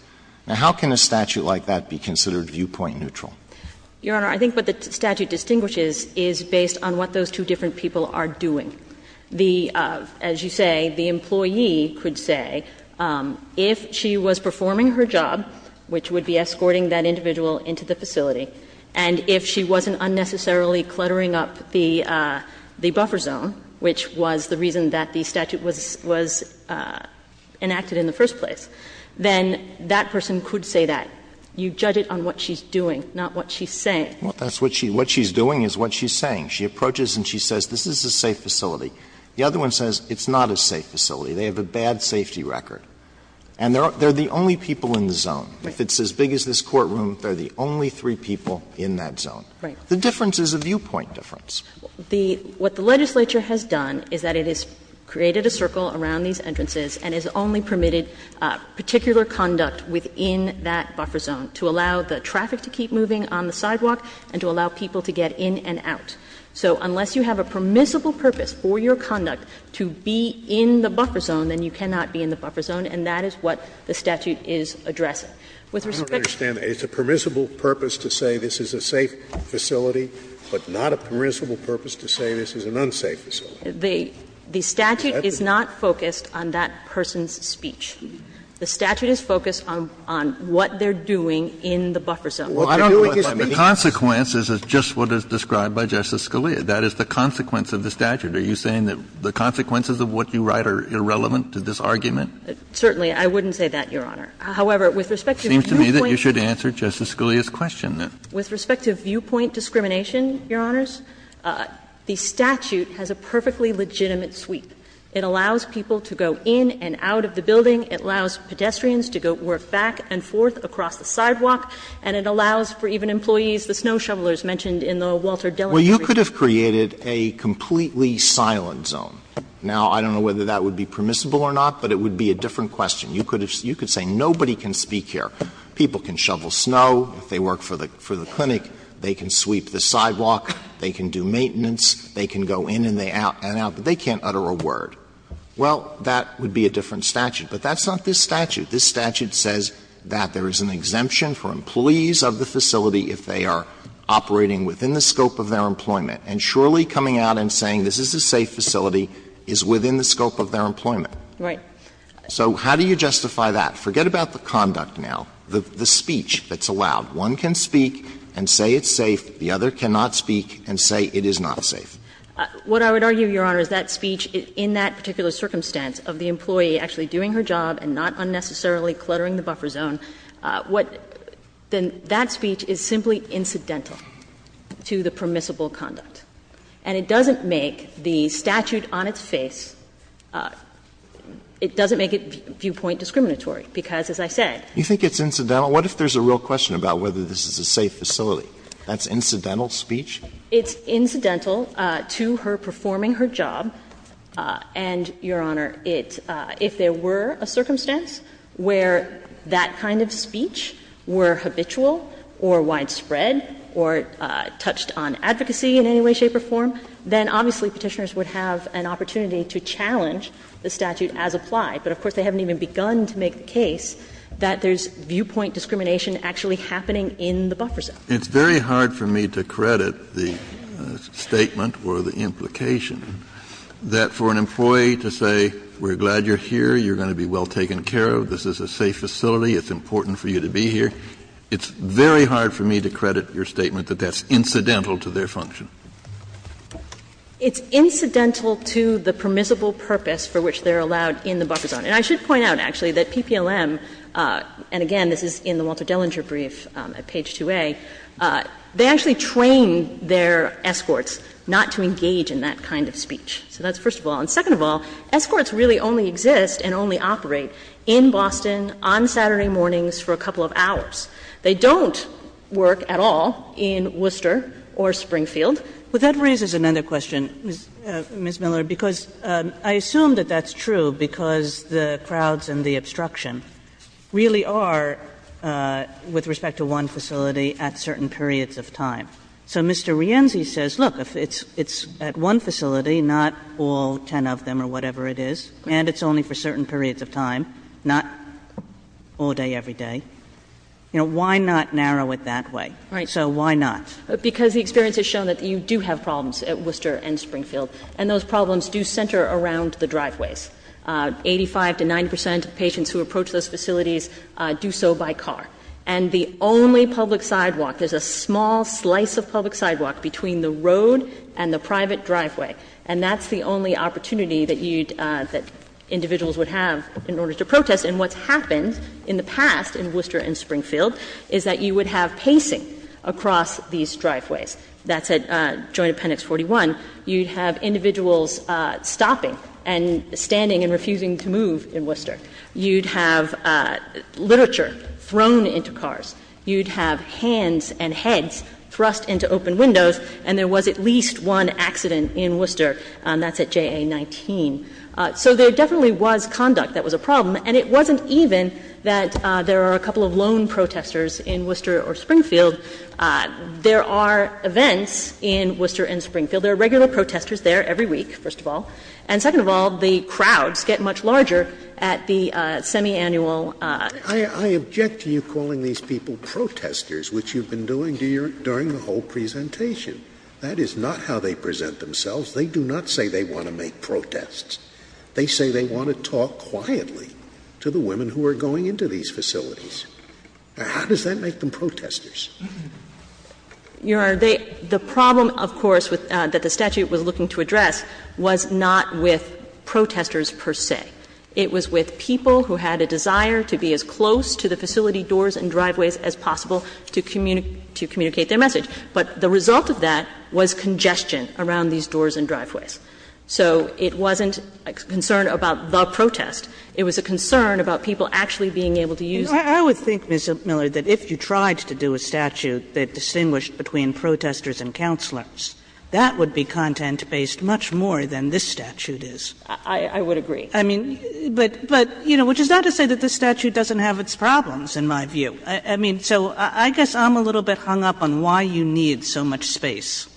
Now, how can a statute like that be considered viewpoint neutral? Your Honor, I think what the statute distinguishes is based on what those two different people are doing. The as you say, the employee could say, if she was performing her job, which would be escorting that individual into the facility, and if she wasn't unnecessarily cluttering up the buffer zone, which was the reason that the statute was, was, was enacted in the first place, then that person could say that. You judge it on what she's doing, not what she's saying. Alito, what she's doing is what she's saying. She approaches and she says, this is a safe facility. The other one says, it's not a safe facility. They have a bad safety record. And they're the only people in the zone. If it's as big as this courtroom, they're the only three people in that zone. The difference is a viewpoint difference. What the legislature has done is that it has created a circle around these entrances and has only permitted particular conduct within that buffer zone to allow the traffic to keep moving on the sidewalk and to allow people to get in and out. So unless you have a permissible purpose for your conduct to be in the buffer zone, then you cannot be in the buffer zone, and that is what the statute is addressing. With respect to the statute, the statute is not focused on that buffer zone, and The statute is focused on what they're doing in the buffer zone. Kennedy, what they're doing is speaking. Kennedy, the consequence is just what is described by Justice Scalia. That is the consequence of the statute. Are you saying that the consequences of what you write are irrelevant to this argument? Certainly. I wouldn't say that, Your Honor. However, with respect to viewpoints. It seems to me that you should answer Justice Scalia's question, then. With respect to viewpoint discrimination, Your Honors, the statute has a perfectly legitimate sweep. It allows people to go in and out of the building. It allows pedestrians to go work back and forth across the sidewalk. And it allows for even employees, the snow shovelers mentioned in the Walter Dillon brief. Alito, you could have created a completely silent zone. Now, I don't know whether that would be permissible or not, but it would be a different question. You could have said nobody can speak here. People can shovel snow. They work for the clinic. They can sweep the sidewalk. They can do maintenance. They can go in and out. But they can't utter a word. Well, that would be a different statute. But that's not this statute. This statute says that there is an exemption for employees of the facility if they are operating within the scope of their employment. And surely coming out and saying this is a safe facility is within the scope of their employment. Right. So how do you justify that? Forget about the conduct now. The speech that's allowed. One can speak and say it's safe. The other cannot speak and say it is not safe. What I would argue, Your Honor, is that speech in that particular circumstance of the employee actually doing her job and not unnecessarily cluttering the buffer zone, what then that speech is simply incidental to the permissible conduct. And it doesn't make the statute on its face, it doesn't make it viewpoint discriminatory, because as I said. You think it's incidental? What if there's a real question about whether this is a safe facility? That's incidental speech? It's incidental to her performing her job. And, Your Honor, it's – if there were a circumstance where that kind of speech were habitual or widespread or touched on advocacy in any way, shape or form, then obviously Petitioners would have an opportunity to challenge the statute as applied. But of course, they haven't even begun to make the case that there's viewpoint discrimination actually happening in the buffer zone. Kennedy, it's very hard for me to credit the statement or the implication that for an employee to say, we're glad you're here, you're going to be well taken care of, this is a safe facility, it's important for you to be here, it's very hard for me to credit your statement that that's incidental to their function. It's incidental to the permissible purpose for which they're allowed in the buffer zone. And I should point out, actually, that PPLM, and again, this is in the Walter Dellinger brief at page 2A, they actually train their escorts not to engage in that kind of speech. So that's first of all. And second of all, escorts really only exist and only operate in Boston on Saturday mornings for a couple of hours. They don't work at all in Worcester or Springfield. Kagan. Kagan. But that raises another question, Ms. Miller, because I assume that that's true because the crowds and the obstruction really are, with respect to one facility, at certain periods of time. So Mr. Rienzi says, look, if it's at one facility, not all ten of them or whatever it is, and it's only for certain periods of time, not all day, every day, you know, why not narrow it that way? So why not? Because the experience has shown that you do have problems at Worcester and Springfield, and those problems do center around the driveways. Eighty-five to 90 percent of patients who approach those facilities do so by car. And the only public sidewalk, there's a small slice of public sidewalk between the road and the private driveway, and that's the only opportunity that you'd – that individuals would have in order to protest. And what's happened in the past in Worcester and Springfield is that you would have pacing across these driveways. That's at Joint Appendix 41. You'd have individuals stopping and standing and refusing to move in Worcester. You'd have literature thrown into cars. You'd have hands and heads thrust into open windows. And there was at least one accident in Worcester, and that's at JA-19. So there definitely was conduct that was a problem, and it wasn't even that there are a couple of lone protesters in Worcester or Springfield. There are events in Worcester and Springfield. There are regular protesters there every week, first of all. And second of all, the crowds get much larger at the semiannual. Scalia, I object to you calling these people protestors, which you've been doing during the whole presentation. That is not how they present themselves. They do not say they want to make protests. They say they want to talk quietly to the women who are going into these facilities. How does that make them protestors? Your Honor, they – the problem, of course, that the statute was looking to address was not with protesters per se. It was with people who had a desire to be as close to the facility doors and driveways as possible to communicate their message. But the result of that was congestion around these doors and driveways. So it wasn't a concern about the protest. It was a concern about people actually being able to use it. Kagan. I would think, Ms. Miller, that if you tried to do a statute that distinguished between protesters and counselors, that would be content-based much more than this statute is. I would agree. I mean, but – but, you know, which is not to say that this statute doesn't have its problems, in my view. I mean, so I guess I'm a little bit hung up on why you need so much space.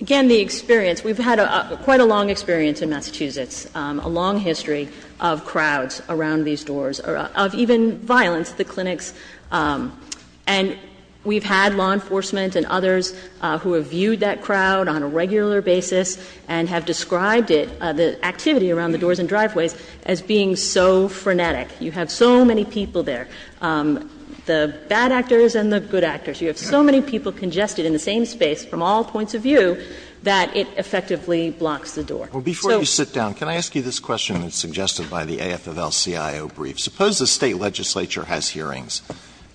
Again, the experience. We've had quite a long experience in Massachusetts, a long history of crowds around these doors, of even violence at the clinics, and we've had law enforcement and others who have viewed that crowd on a regular basis and have described it, the activity around the doors and driveways, as being so frenetic. You have so many people there, the bad actors and the good actors. You have so many people congested in the same space from all points of view that it effectively blocks the door. So – Alito, I'm going to ask you a question that's a little bit more in the video brief. Suppose the State legislature has hearings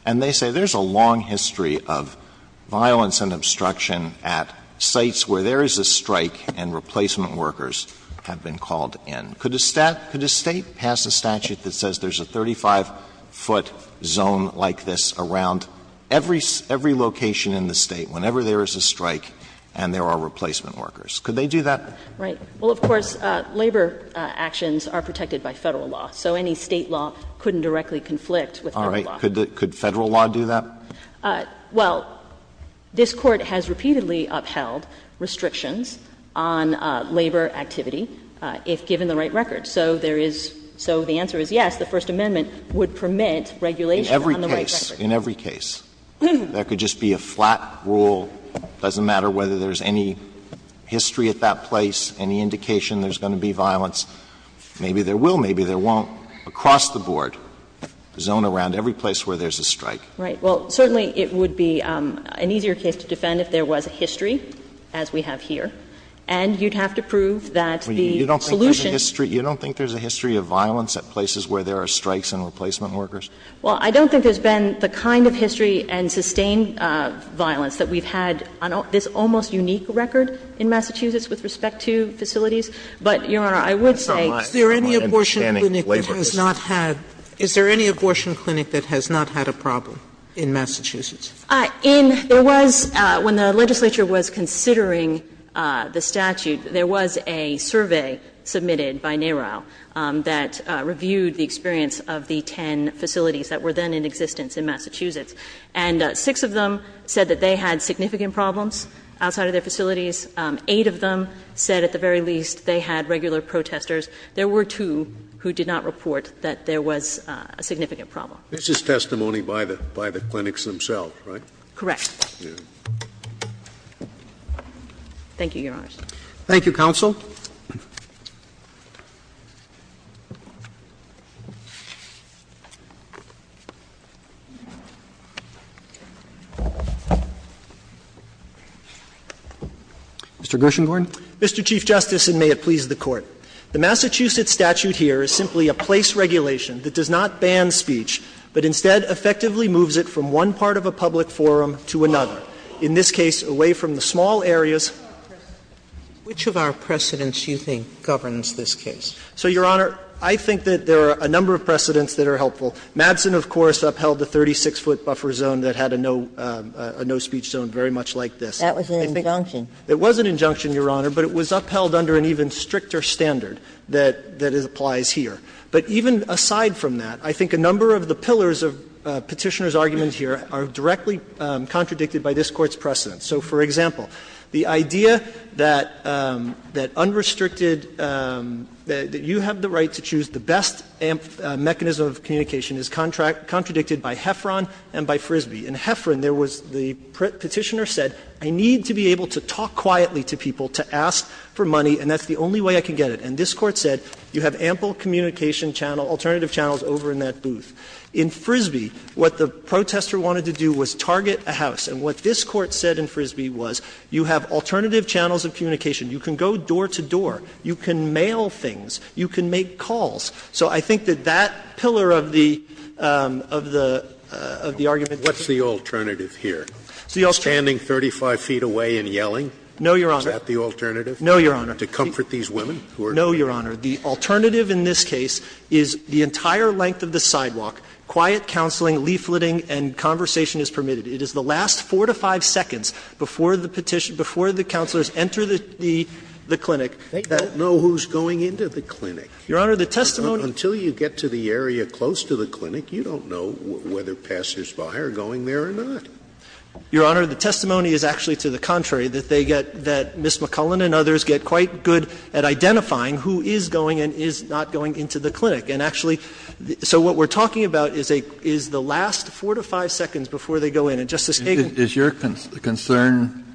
and they say there's a long history of violence and obstruction at sites where there is a strike and replacement workers have been called in. Could a State pass a statute that says there's a 35-foot zone like this around every location in the State whenever there is a strike and there are replacement workers? Could they do that? Right. Well, of course, labor actions are protected by Federal law. So any State law couldn't directly conflict with Federal law. All right. Could Federal law do that? Well, this Court has repeatedly upheld restrictions on labor activity if given the right record. So there is – so the answer is yes, the First Amendment would permit regulation on the right record. In every case, in every case, there could just be a flat rule. It doesn't matter whether there's any history at that place, any indication there's going to be violence. Maybe there will, maybe there won't, across the board, zone around every place where there's a strike. Right. Well, certainly it would be an easier case to defend if there was a history, as we have here. And you'd have to prove that the solution to this case is that there's a flat rule. You don't think there's a history of violence at places where there are strikes and replacement workers? Well, I don't think there's been the kind of history and sustained violence that we've had on this almost unique record in Massachusetts with respect to facilities. But, Your Honor, I would say that's all I have on understanding labor issues. Sotomayor, is there any abortion clinic that has not had a problem in Massachusetts? In – there was, when the legislature was considering the statute, there was a survey submitted by NARAL that reviewed the experience of the ten facilities that were then in existence in Massachusetts, and six of them said that they had significant problems outside of their facilities. Eight of them said, at the very least, they had regular protesters. There were two who did not report that there was a significant problem. This is testimony by the clinics themselves, right? Correct. Thank you, Your Honors. Thank you, counsel. Mr. Gershengorn. Mr. Chief Justice, and may it please the Court. The Massachusetts statute here is simply a place regulation that does not ban speech, but instead effectively moves it from one part of a public forum to another, in this case, away from the small areas. Which of our precedents do you think governs this case? So, Your Honor, I think that there are a number of precedents that are helpful. Madsen, of course, upheld the 36-foot buffer zone that had a no – a no speech zone very much like this. That was an injunction. It was an injunction, Your Honor, but it was upheld under an even stricter standard that – that applies here. But even aside from that, I think a number of the pillars of Petitioner's argument here are directly contradicted by this Court's precedents. So, for example, the idea that unrestricted – that you have the right to choose the best mechanism of communication is contradicted by Heffron and by Frisbee. In Heffron, there was the Petitioner said, I need to be able to talk quietly to people to ask for money, and that's the only way I can get it. And this Court said, you have ample communication channel, alternative channels over in that booth. In Frisbee, what the protester wanted to do was target a house. And what this Court said in Frisbee was, you have alternative channels of communication. You can go door to door. You can mail things. You can make calls. So I think that that pillar of the – of the argument. Scalia, what's the alternative here? Standing 35 feet away and yelling? No, Your Honor. Is that the alternative? No, Your Honor. To comfort these women? No, Your Honor. The alternative in this case is the entire length of the sidewalk, quiet counseling, leafleting, and conversation is permitted. It is the last 4 to 5 seconds before the petition – before the counselors enter the clinic. Scalia, they don't know who's going into the clinic. Your Honor, the testimony – Until you get to the area close to the clinic, you don't know whether Passersby are going there or not. Your Honor, the testimony is actually to the contrary, that they get – that Ms. McClellan and others get quite good at identifying who is going and is not going into the clinic. And actually, so what we're talking about is a – is the last 4 to 5 seconds before they go in. And Justice Kagan – Is your concern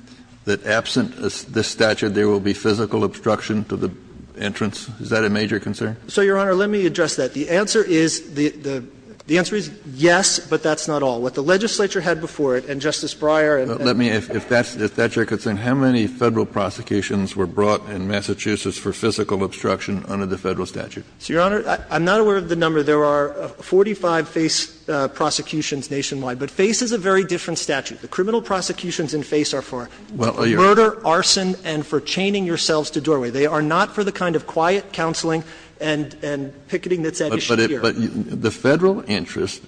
that absent this statute, there will be physical obstruction to the entrance? Is that a major concern? So, Your Honor, let me address that. The answer is – the answer is yes, but that's not all. What the legislature had before it, and Justice Breyer and – Let me – if that's your concern, how many Federal prosecutions were brought in Massachusetts for physical obstruction under the Federal statute? So, Your Honor, I'm not aware of the number. There are 45 FACE prosecutions nationwide, but FACE is a very different statute. The criminal prosecutions in FACE are for murder, arson, and for chaining yourselves to doorway. They are not for the kind of quiet counseling and picketing that's at issue here. But the Federal interest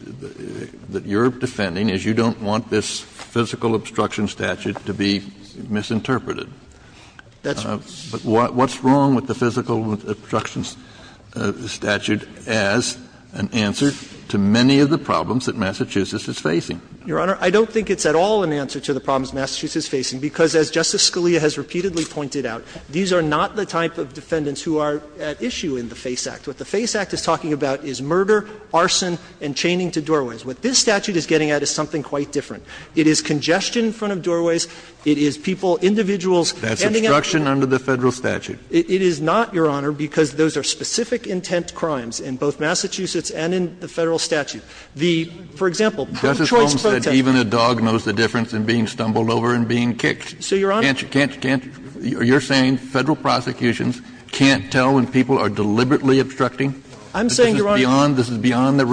that you're defending is you don't want this physical obstruction statute to be misinterpreted. That's what's wrong with the physical obstructions statute as an answer to many of the problems that Massachusetts is facing. Your Honor, I don't think it's at all an answer to the problems Massachusetts is facing, because as Justice Scalia has repeatedly pointed out, these are not the type of defendants who are at issue in the FACE Act. What the FACE Act is talking about is murder, arson, and chaining to doorways. What this statute is getting at is something quite different. It is congestion in front of doorways. It is people, individuals handing out papers. Kennedy, that's obstruction under the Federal statute. It is not, Your Honor, because those are specific intent crimes in both Massachusetts and in the Federal statute. The, for example, pro-choice protests. Justice Sotomayor said even a dog knows the difference in being stumbled over and being kicked. So, Your Honor, you're saying Federal prosecutions can't tell when people are deliberately obstructing? I'm saying, Your Honor,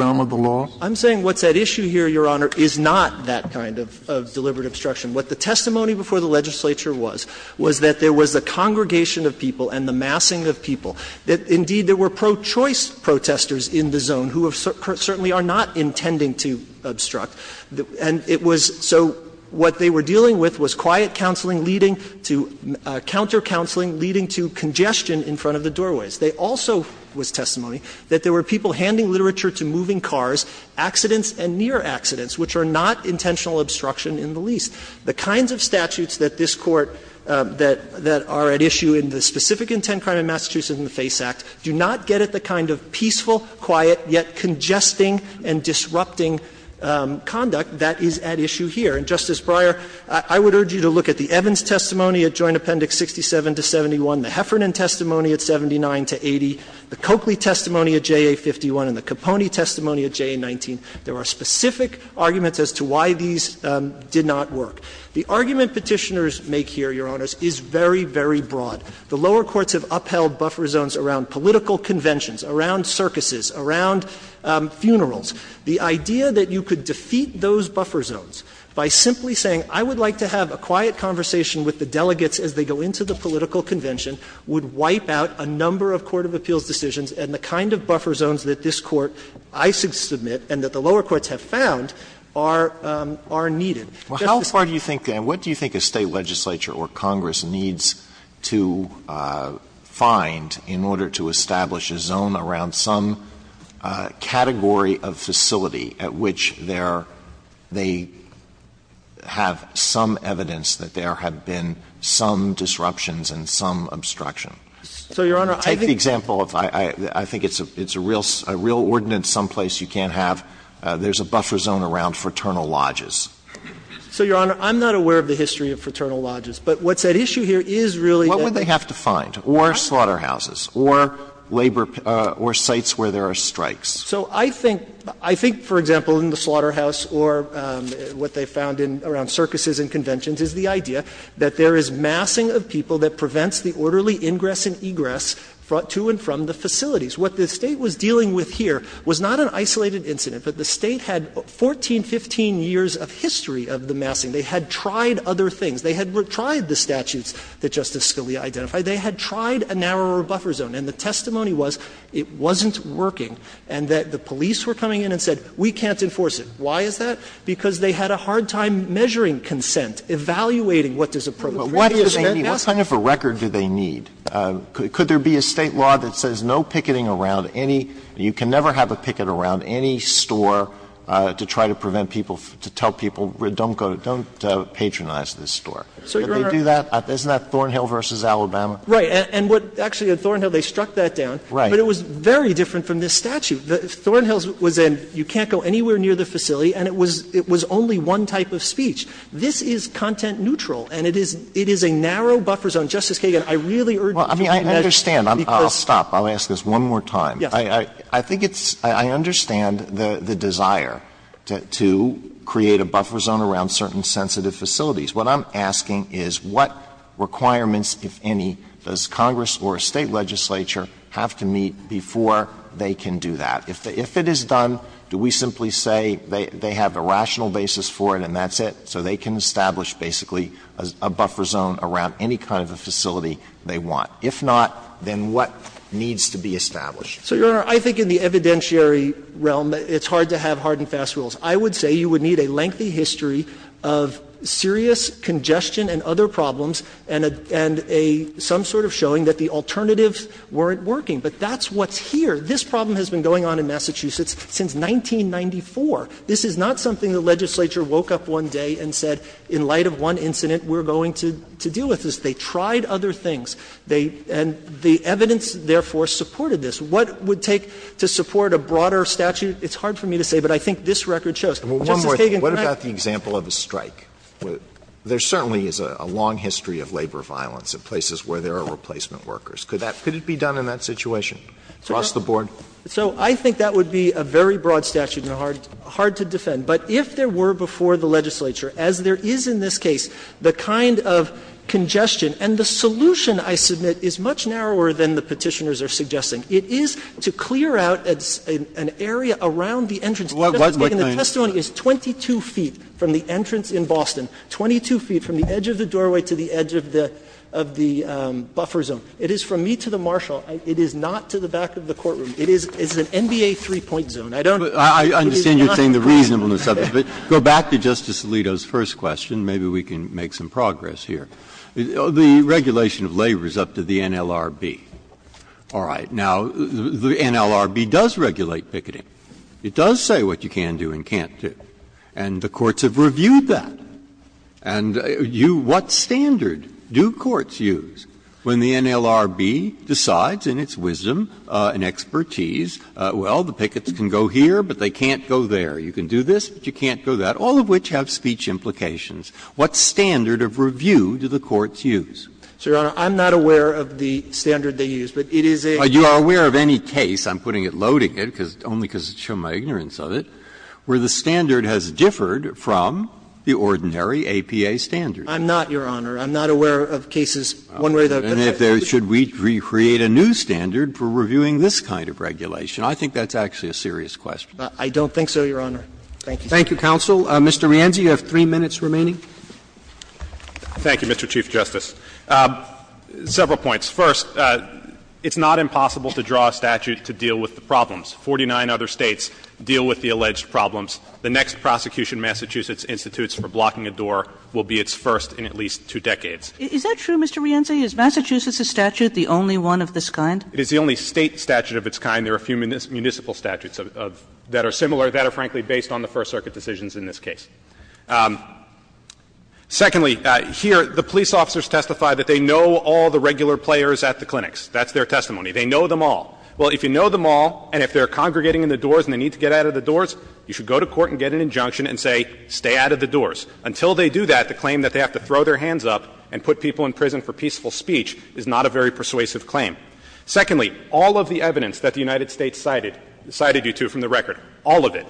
I'm saying what's at issue here, Your Honor, is not that kind of deliberate obstruction. What the testimony before the legislature was, was that there was a congregation of people and the massing of people. Indeed, there were pro-choice protesters in the zone who certainly are not intending to obstruct. And it was so what they were dealing with was quiet counseling leading to counter counseling leading to congestion in front of the doorways. There also was testimony that there were people handing literature to moving cars, accidents and near accidents, which are not intentional obstruction in the least. The kinds of statutes that this Court, that are at issue in the specific intent crime in Massachusetts in the FACE Act, do not get at the kind of peaceful, quiet, yet congesting and disrupting conduct that is at issue here. And, Justice Breyer, I would urge you to look at the Evans testimony at Joint Appendix 67 to 71, the Heffernan testimony at 79 to 80, the Coakley testimony at JA51 and the Caponi testimony at JA19. There are specific arguments as to why these did not work. The argument Petitioners make here, Your Honors, is very, very broad. The lower courts have upheld buffer zones around political conventions, around circuses, around funerals. The idea that you could defeat those buffer zones by simply saying, I would like to have a quiet conversation with the delegates as they go into the political convention would wipe out a number of court of appeals decisions and the kind of buffer zones that this Court, I submit, and that the lower courts have found, are needed. Alitoso, Justice Breyer, what do you think a State legislature or Congress needs to find in order to establish a zone around some category of facility at which there they have some evidence that there have been some disruptions and some obstruction? Take the example of, I think it's a real ordinance someplace you can't have, there's a buffer zone around fraternal lodges. So, Your Honor, I'm not aware of the history of fraternal lodges. But what's at issue here is really that they have to find, or slaughterhouses, or labor or sites where there are strikes. So I think, I think, for example, in the slaughterhouse or what they found in, around circuses and conventions, is the idea that there is massing of people that prevents the orderly ingress and egress to and from the facilities. What the State was dealing with here was not an isolated incident, but the State had 14, 15 years of history of the massing. They had tried other things. They had tried the statutes that Justice Scalia identified. They had tried a narrower buffer zone. And the testimony was it wasn't working and that the police were coming in and said, we can't enforce it. Why is that? Because they had a hard time measuring consent, evaluating what does a proletariat What kind of a record do they need? Could there be a State law that says no picketing around any, you can never have a picket around any store to try to prevent people, to tell people, don't go, don't patronize this store. Could they do that? Isn't that Thornhill v. Alabama? Right. And what, actually at Thornhill they struck that down, but it was very different from this statute. Thornhill's was a, you can't go anywhere near the facility, and it was only one type of speech. This is content neutral, and it is a narrow buffer zone. Justice Kagan, I really urge you to take measures because Alito I understand. I'll stop. I'll ask this one more time. I think it's, I understand the desire to create a buffer zone around certain sensitive facilities. What I'm asking is what requirements, if any, does Congress or a State legislature have to meet before they can do that? If it is done, do we simply say they have a rational basis for it and that's it, so they can establish basically a buffer zone around any kind of a facility they want? If not, then what needs to be established? So, Your Honor, I think in the evidentiary realm, it's hard to have hard and fast rules. I would say you would need a lengthy history of serious congestion and other problems and a, and a, some sort of showing that the alternatives weren't working. But that's what's here. This problem has been going on in Massachusetts since 1994. This is not something the legislature woke up one day and said, in light of one incident, we're going to deal with this. They tried other things. They, and the evidence therefore supported this. What it would take to support a broader statute, it's hard for me to say, but I think this record shows. Justice Kagan, can I? Alito What about the example of a strike? There certainly is a long history of labor violence at places where there are replacement workers. Could that, could it be done in that situation across the board? So I think that would be a very broad statute and hard, hard to defend. But if there were before the legislature, as there is in this case, the kind of congestion and the solution, I submit, is much narrower than the Petitioners are suggesting. It is to clear out an area around the entrance. Justice Kagan, the testimony is 22 feet from the entrance in Boston, 22 feet from the edge of the doorway to the edge of the, of the buffer zone. It is from me to the marshal. It is not to the back of the courtroom. It is, it's an NBA three-point zone. I don't, it is not. Breyer I understand you're saying the reasonableness of it. But go back to Justice Alito's first question. Maybe we can make some progress here. The regulation of labor is up to the NLRB. All right. Now, the NLRB does regulate picketing. It does say what you can do and can't do. And the courts have reviewed that. And you, what standard do courts use when the NLRB decides in its wisdom and expertise, well, the pickets can go here, but they can't go there. You can do this, but you can't do that, all of which have speech implications. What standard of review do the courts use? So, Your Honor, I'm not aware of the standard they use, but it is a. You are aware of any case, I'm putting it, loading it, because, only because of my ignorance of it, where the standard has differed from the ordinary APA standard. I'm not, Your Honor. I'm not aware of cases one way or the other. And if there, should we create a new standard for reviewing this kind of regulation? I think that's actually a serious question. I don't think so, Your Honor. Thank you. Thank you, counsel. Mr. Rienzi, you have 3 minutes remaining. Thank you, Mr. Chief Justice. Several points. First, it's not impossible to draw a statute to deal with the problems. Forty-nine other States deal with the alleged problems. The next prosecution Massachusetts institutes for blocking a door will be its first in at least two decades. Is that true, Mr. Rienzi? Is Massachusetts's statute the only one of this kind? It is the only State statute of its kind. There are a few municipal statutes that are similar that are, frankly, based on the First Circuit decisions in this case. Secondly, here, the police officers testify that they know all the regular players at the clinics. That's their testimony. They know them all. Well, if you know them all and if they're congregating in the doors and they need to get out of the doors, you should go to court and get an injunction and say, stay out of the doors. Until they do that, the claim that they have to throw their hands up and put people in prison for peaceful speech is not a very persuasive claim. Secondly, all of the evidence that the United States cited, cited you to from the record, all of it,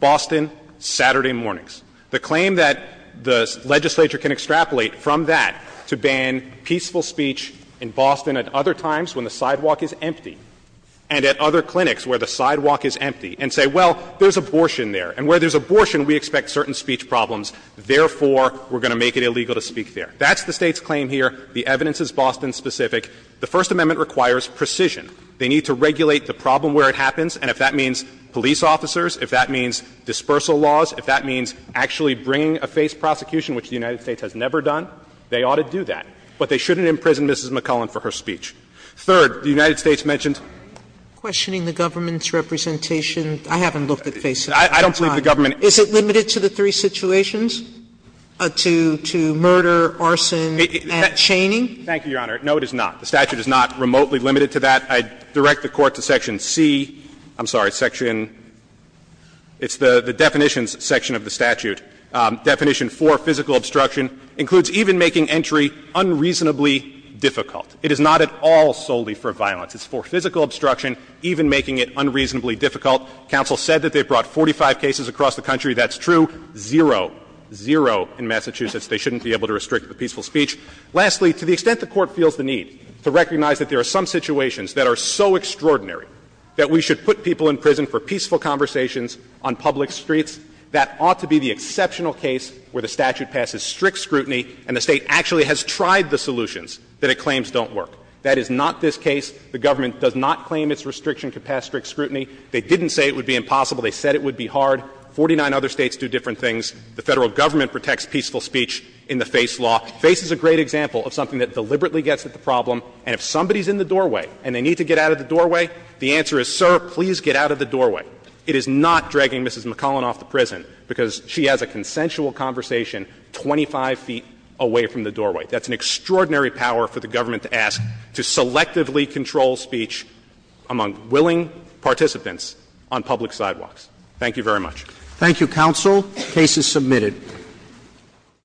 Boston, Saturday mornings, the claim that the legislature can extrapolate from that to ban peaceful speech in Boston at other times when the and at other clinics where the sidewalk is empty and say, well, there's abortion there, and where there's abortion, we expect certain speech problems, therefore we're going to make it illegal to speak there. That's the State's claim here. The evidence is Boston-specific. The First Amendment requires precision. They need to regulate the problem where it happens, and if that means police officers, if that means dispersal laws, if that means actually bringing a face prosecution, which the United States has never done, they ought to do that. But they shouldn't imprison Mrs. McClellan for her speech. Third, the United States mentioned Sotomayor questioning the government's representation. I haven't looked at face protection. I don't believe the government Is it limited to the three situations, to murder, arson, and chaining? Thank you, Your Honor. No, it is not. The statute is not remotely limited to that. I direct the Court to section C. I'm sorry, section – it's the definitions section of the statute. Definition 4, physical obstruction, includes even making entry unreasonably difficult. It is not at all solely for violence. It's for physical obstruction, even making it unreasonably difficult. Counsel said that they've brought 45 cases across the country. That's true. Zero, zero in Massachusetts. They shouldn't be able to restrict the peaceful speech. Lastly, to the extent the Court feels the need to recognize that there are some situations that are so extraordinary that we should put people in prison for peaceful conversations on public streets, that ought to be the exceptional case where the statute passes strict scrutiny and the State actually has tried the solutions that it claims don't work. That is not this case. The government does not claim its restriction could pass strict scrutiny. They didn't say it would be impossible. They said it would be hard. Forty-nine other States do different things. The Federal Government protects peaceful speech in the FACE law. FACE is a great example of something that deliberately gets at the problem, and if somebody's in the doorway and they need to get out of the doorway, the answer is, sir, please get out of the doorway. It is not dragging Mrs. McClellan off the prison because she has a consensual conversation 25 feet away from the doorway. That's an extraordinary power for the government to ask, to selectively control speech among willing participants on public sidewalks. Thank you very much. Thank you, counsel. The case is submitted.